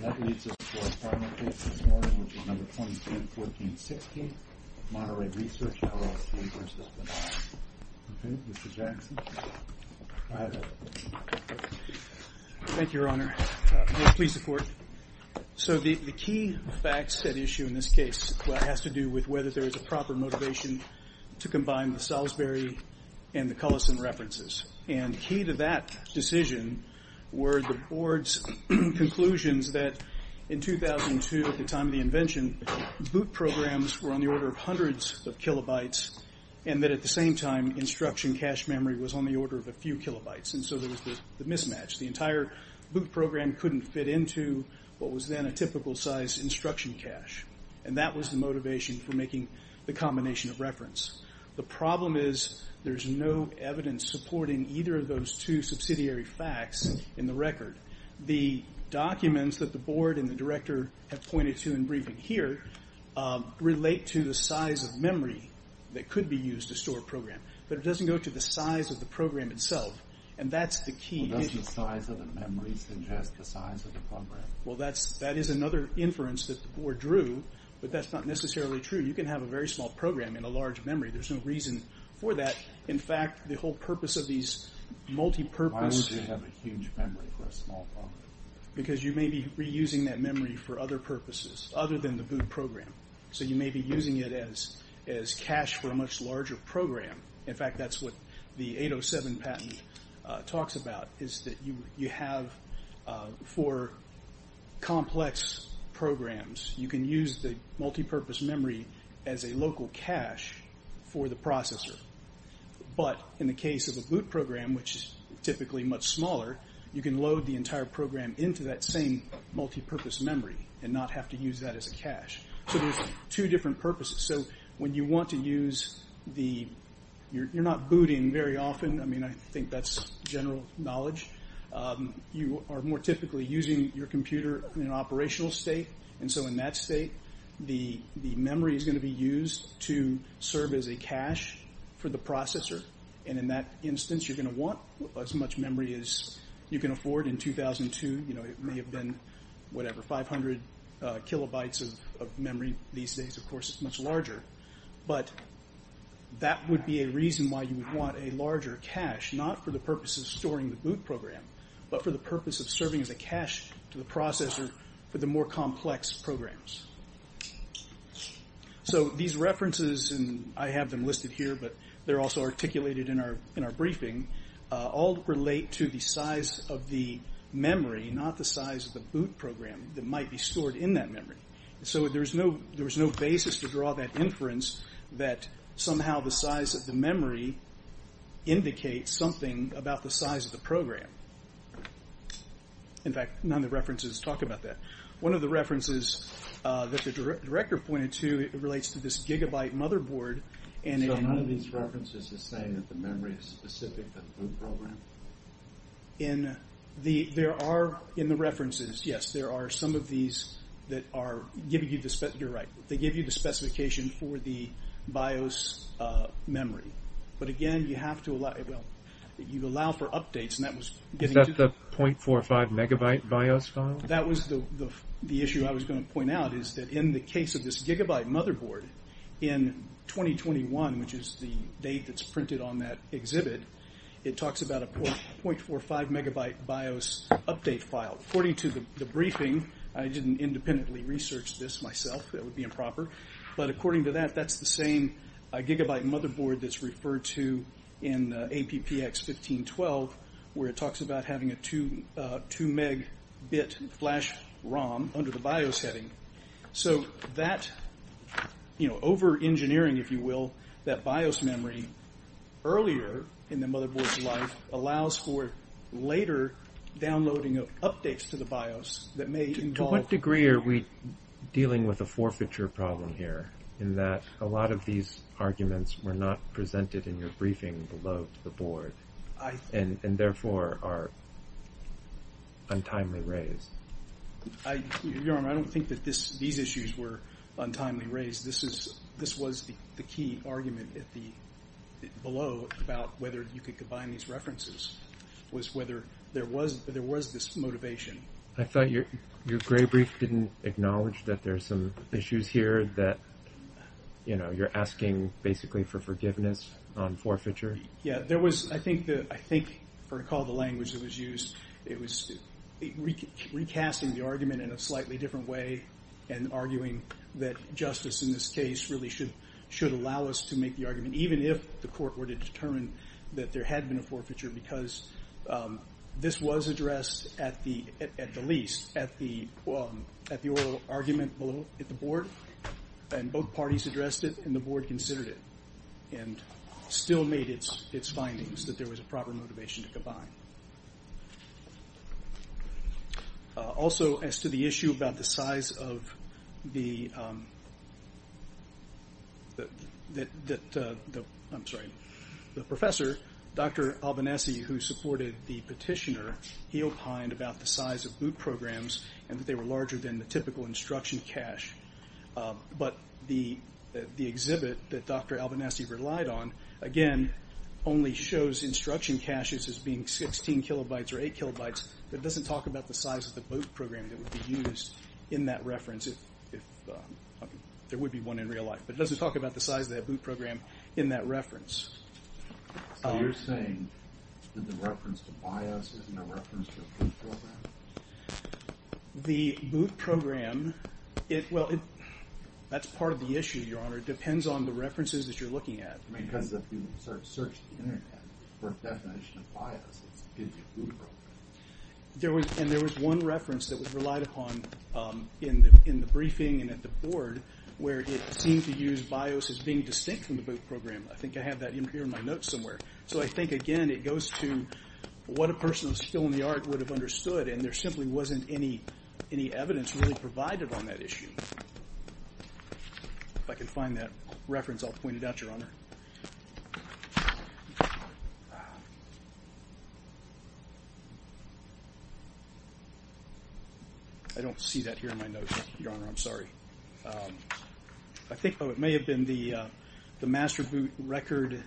That leads us to our final case this morning, which is No. 2014-16, Monterey Research, LLC v. Vidal. Okay, Mr. Jackson. Go ahead. Thank you, Your Honor. Please support. So the key facts at issue in this case has to do with whether there is a proper motivation to combine the Salisbury and the Cullison references. And key to that decision were the Board's conclusions that in 2002, at the time of the invention, boot programs were on the order of hundreds of kilobytes, and that at the same time, instruction cache memory was on the order of a few kilobytes. And so there was the mismatch. The entire boot program couldn't fit into what was then a typical size instruction cache. And that was the motivation for making the combination of reference. The problem is there's no evidence supporting either of those two subsidiary facts in the record. The documents that the Board and the Director have pointed to in briefing here relate to the size of memory that could be used to store a program. But it doesn't go to the size of the program itself, and that's the key. Well, doesn't the size of the memory suggest the size of the program? Well, that is another inference that the Board drew, but that's not necessarily true. You can have a very small program in a large memory. There's no reason for that. In fact, the whole purpose of these multi-purpose… Why would you have a huge memory for a small program? Because you may be reusing that memory for other purposes other than the boot program. So you may be using it as cache for a much larger program. In fact, that's what the 807 patent talks about, is that you have for complex programs, you can use the multi-purpose memory as a local cache for the processor. But in the case of a boot program, which is typically much smaller, you can load the entire program into that same multi-purpose memory and not have to use that as a cache. So there's two different purposes. So when you want to use the… You're not booting very often. I mean, I think that's general knowledge. You are more typically using your computer in an operational state. And so in that state, the memory is going to be used to serve as a cache for the processor. And in that instance, you're going to want as much memory as you can afford. In 2002, it may have been, whatever, 500 kilobytes of memory. These days, of course, it's much larger. But that would be a reason why you would want a larger cache, not for the purpose of storing the boot program, but for the purpose of serving as a cache to the processor for the more complex programs. So these references, and I have them listed here, but they're also articulated in our briefing, all relate to the size of the memory, not the size of the boot program that might be stored in that memory. So there's no basis to draw that inference that somehow the size of the memory indicates something about the size of the program. In fact, none of the references talk about that. One of the references that the director pointed to relates to this gigabyte motherboard. So none of these references are saying that the memory is specific to the boot program? In the references, yes, there are some of these that are giving you the... the BIOS memory. But again, you have to allow... Well, you allow for updates, and that was... Is that the .45 megabyte BIOS file? That was the issue I was going to point out, is that in the case of this gigabyte motherboard, in 2021, which is the date that's printed on that exhibit, it talks about a .45 megabyte BIOS update file. According to the briefing, I didn't independently research this myself. That would be improper. But according to that, that's the same gigabyte motherboard that's referred to in APPX 1512, where it talks about having a 2 megabit flash ROM under the BIOS setting. So that, you know, overengineering, if you will, that BIOS memory earlier in the motherboard's life allows for later downloading of updates to the BIOS that may involve... in that a lot of these arguments were not presented in your briefing below to the board, and therefore are untimely raised. Your Honor, I don't think that these issues were untimely raised. This was the key argument below about whether you could combine these references, was whether there was this motivation. I thought your gray brief didn't acknowledge that there's some issues here that, you know, you're asking basically for forgiveness on forfeiture. Yeah, there was, I think, for the call to language that was used, it was recasting the argument in a slightly different way and arguing that justice in this case really should allow us to make the argument, even if the court were to determine that there had been a forfeiture because this was addressed at the least, at the oral argument below at the board, and both parties addressed it and the board considered it and still made its findings that there was a proper motivation to combine. Also, as to the issue about the size of the... I'm sorry, the professor, Dr. Albanese, who supported the petitioner, he opined about the size of boot programs and that they were larger than the typical instruction cache, but the exhibit that Dr. Albanese relied on, again, only shows instruction caches as being 16 kilobytes or 8 kilobytes, but it doesn't talk about the size of the boot program that would be used in that reference. There would be one in real life, So you're saying that the reference to BIOS isn't a reference to a boot program? The boot program... Well, that's part of the issue, Your Honor. It depends on the references that you're looking at. Because if you search the Internet for a definition of BIOS, it gives you a boot program. And there was one reference that was relied upon in the briefing and at the board where it seemed to use BIOS as being distinct from the boot program. I think I have that here in my notes somewhere. So I think, again, it goes to what a person who's still in the art would have understood, and there simply wasn't any evidence really provided on that issue. If I can find that reference, I'll point it out, Your Honor. I don't see that here in my notes, Your Honor. I'm sorry. I think it may have been the Master Boot Record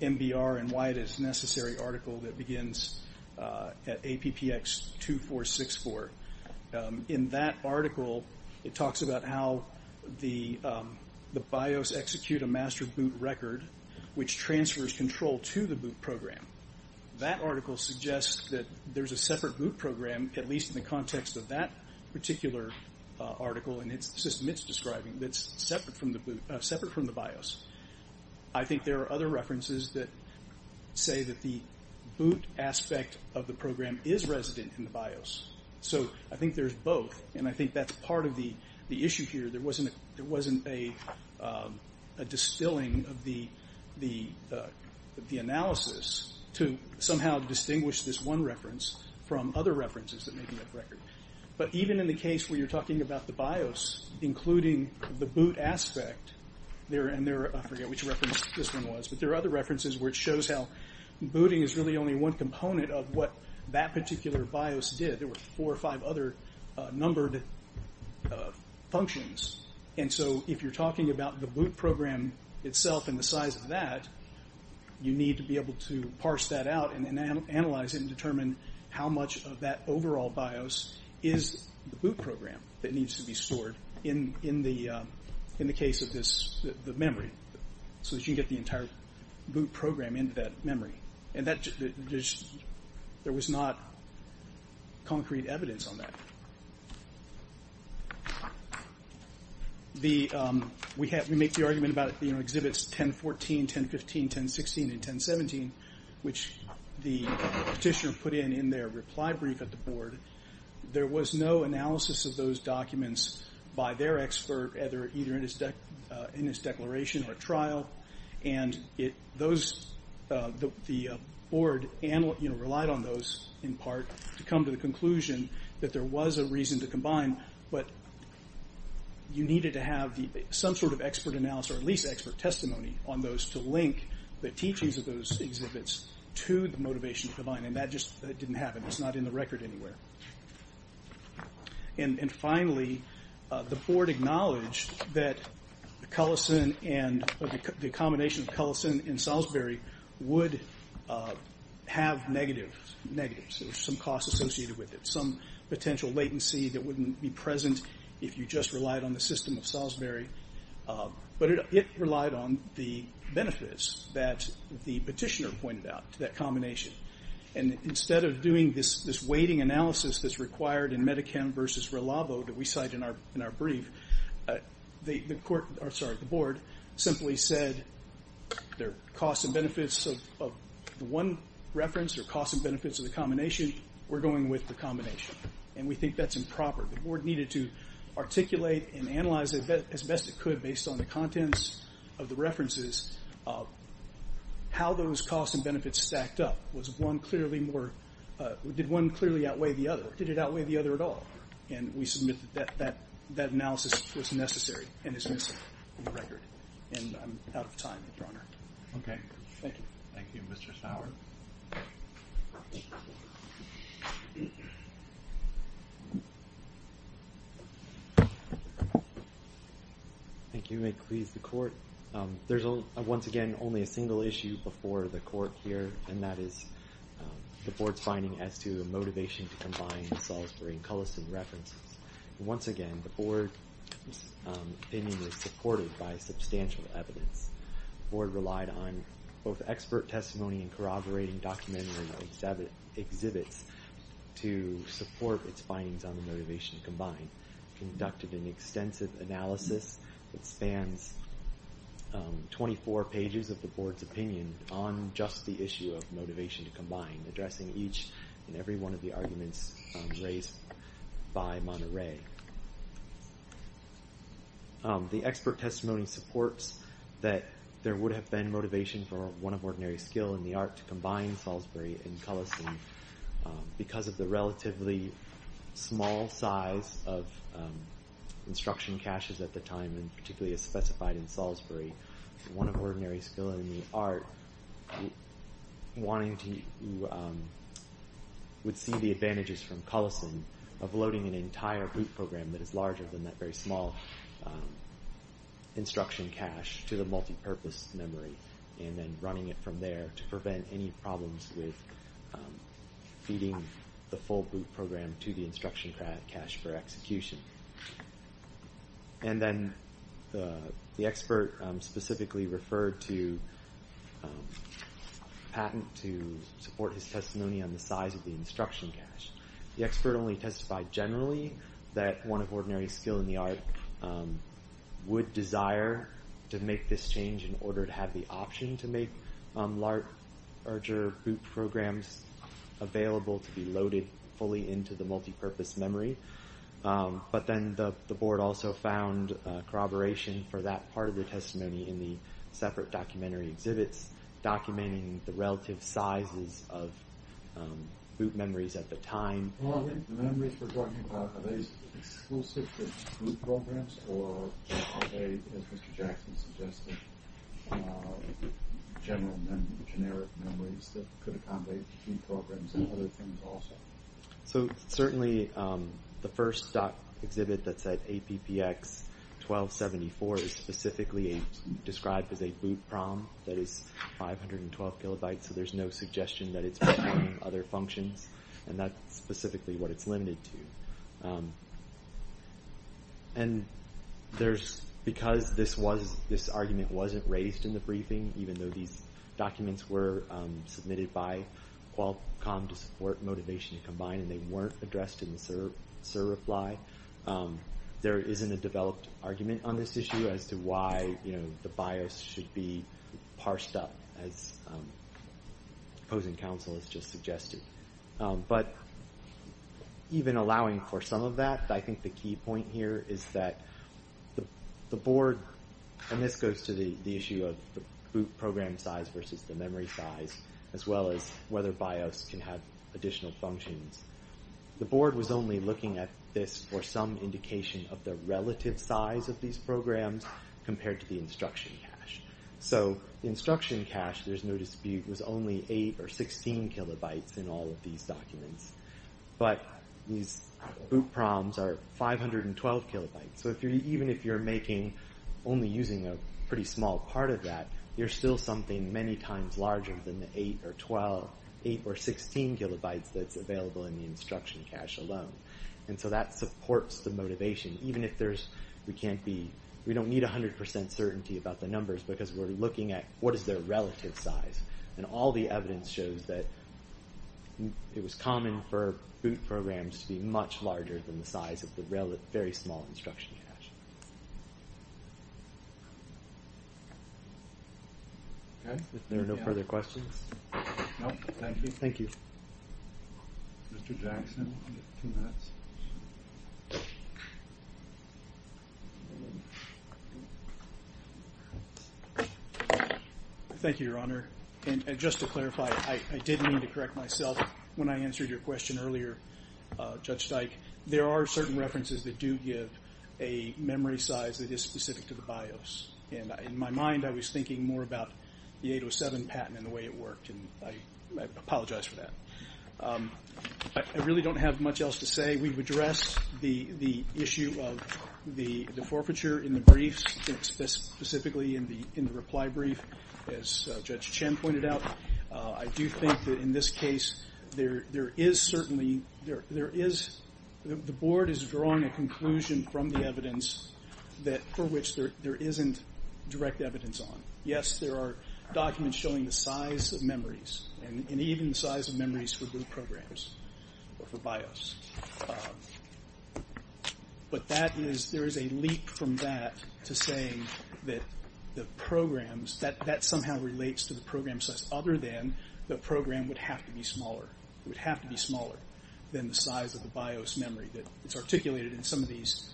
MBR and Why It Is Necessary article that begins at APPX 2464. In that article, it talks about how the BIOS execute a master boot record which transfers control to the boot program. That article suggests that there's a separate boot program, at least in the context of that particular article and the system it's describing, that's separate from the BIOS. I think there are other references that say that the boot aspect of the program is resident in the BIOS. So I think there's both, and I think that's part of the issue here. There wasn't a distilling of the analysis to somehow distinguish this one reference from other references that may be of record. But even in the case where you're talking about the BIOS, including the boot aspect, I forget which reference this one was, but there are other references where it shows how booting is really only one component of what that particular BIOS did. There were four or five other numbered functions. And so if you're talking about the boot program itself and the size of that, you need to be able to parse that out and analyze it and determine how much of that overall BIOS is the boot program that needs to be stored in the case of the memory so that you can get the entire boot program into that memory. And there was not concrete evidence on that. We make the argument about exhibits 1014, 1015, 1016, and 1017, which the petitioner put in in their reply brief at the board. There was no analysis of those documents by their expert either in his declaration or trial. And the board relied on those in part to come to the conclusion that there was a reason to combine. But you needed to have some sort of expert analysis or at least expert testimony on those to link the teachings of those exhibits to the motivation to combine. And that just didn't happen. It's not in the record anywhere. And finally, the board acknowledged that the combination of Cullison and Salisbury would have negatives. There was some cost associated with it, if you just relied on the system of Salisbury. But it relied on the benefits that the petitioner pointed out to that combination. And instead of doing this weighting analysis that's required in Medicam versus Relabo that we cite in our brief, the board simply said, there are costs and benefits of the one reference. There are costs and benefits of the combination. We're going with the combination. And we think that's improper. The board needed to articulate and analyze as best it could based on the contents of the references how those costs and benefits stacked up. Did one clearly outweigh the other? Did it outweigh the other at all? And we submit that that analysis was necessary and is missing from the record. And I'm out of time, Your Honor. OK. Thank you. Thank you, Mr. Sauer. Thank you. May it please the court. There's, once again, only a single issue before the court here, and that is the board's finding as to the motivation to combine the Salisbury and Cullison references. Once again, the board's opinion is supported by substantial evidence. The board relied on both expert testimony and corroborating documentary exhibits to support its findings on the motivation to combine. Conducted an extensive analysis that spans 24 pages of the board's opinion on just the issue of motivation to combine, addressing each and every one of the arguments raised by Monterey. The expert testimony supports that there would have been motivation for one of ordinary skill in the art to combine Salisbury and Cullison because of the relatively small size of instruction caches at the time, and particularly as specified in Salisbury, one of ordinary skill in the art would see the advantages from Cullison of loading an entire group program that is larger than that very small instruction cache to the multipurpose memory. And then running it from there to prevent any problems with feeding the full group program to the instruction cache for execution. And then the expert specifically referred to a patent to support his testimony on the size of the instruction cache. The expert only testified generally that one of ordinary skill in the art would desire to make this change in order to have the option to make larger group programs available to be loaded fully into the multipurpose memory. But then the board also found corroboration for that part of the testimony in the separate documentary exhibits documenting the relative sizes of group memories at the time. The memories we're talking about, are they exclusive to group programs or are they, as Mr. Jackson suggested, general and generic memories that could accommodate key programs and other things also? So certainly the first exhibit that said APPX1274 is specifically described as a boot prom that is 512 kilobytes, so there's no suggestion that it's any other functions, and that's specifically what it's limited to. And because this argument wasn't raised in the briefing, even though these documents were submitted by Qualcomm to support Motivation to Combine and they weren't addressed in the certify, there isn't a developed argument on this issue as to why the BIOS should be parsed up as opposing counsel has just suggested. But even allowing for some of that, I think the key point here is that the board, and this goes to the issue of the boot program size versus the memory size, as well as whether BIOS can have additional functions. The board was only looking at this for some indication of the relative size of these programs compared to the instruction cache. So the instruction cache, there's no dispute, was only 8 or 16 kilobytes in all of these documents, but these boot proms are 512 kilobytes. So even if you're only using a pretty small part of that, there's still something many times larger than the 8 or 16 kilobytes that's available in the instruction cache alone. And so that supports the motivation. Even if there's, we can't be, we don't need 100% certainty about the numbers because we're looking at what is their relative size. And all the evidence shows that it was common for boot programs to be much larger than the size of the very small instruction cache. If there are no further questions. Nope, thank you. Thank you. Mr. Jackson, you have two minutes. Thank you, Your Honor. And just to clarify, I did mean to correct myself when I answered your question earlier, Judge Dyke. There are certain references that do give a memory size that is specific to the BIOS. And in my mind, I was thinking more about the 807 patent and the way it worked, and I apologize for that. I really don't have much else to say. We've addressed the issue of the forfeiture in the briefs, specifically in the reply brief, as Judge Chen pointed out. I do think that in this case, there is certainly, there is, the Board is drawing a conclusion from the evidence for which there isn't direct evidence on. Yes, there are documents showing the size of memories, and even the size of memories for blue programs, for BIOS. But that is, there is a leap from that to saying that the programs, that somehow relates to the program size, other than the program would have to be smaller. It would have to be smaller than the size of the BIOS memory that is articulated in some of these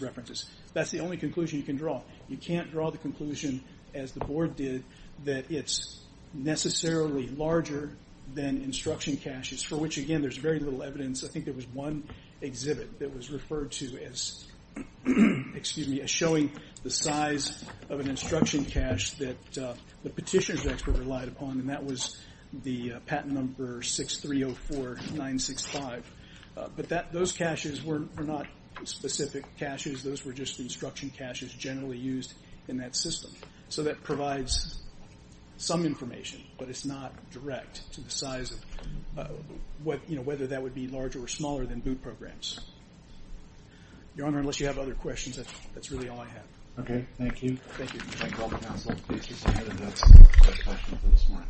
references. That's the only conclusion you can draw. You can't draw the conclusion, as the Board did, that it's necessarily larger than instruction caches, for which, again, there's very little evidence. I think there was one exhibit that was referred to as showing the size of an instruction cache that the petitions expert relied upon, and that was the patent number 6304965. But those caches were not specific caches. Those were just instruction caches generally used in that system. So that provides some information, but it's not direct to the size of whether that would be larger or smaller than boot programs. Your Honor, unless you have other questions, that's really all I have. Okay, thank you. Thank you. Thank all the counsel. Thank you, sir. And that's my question for this morning.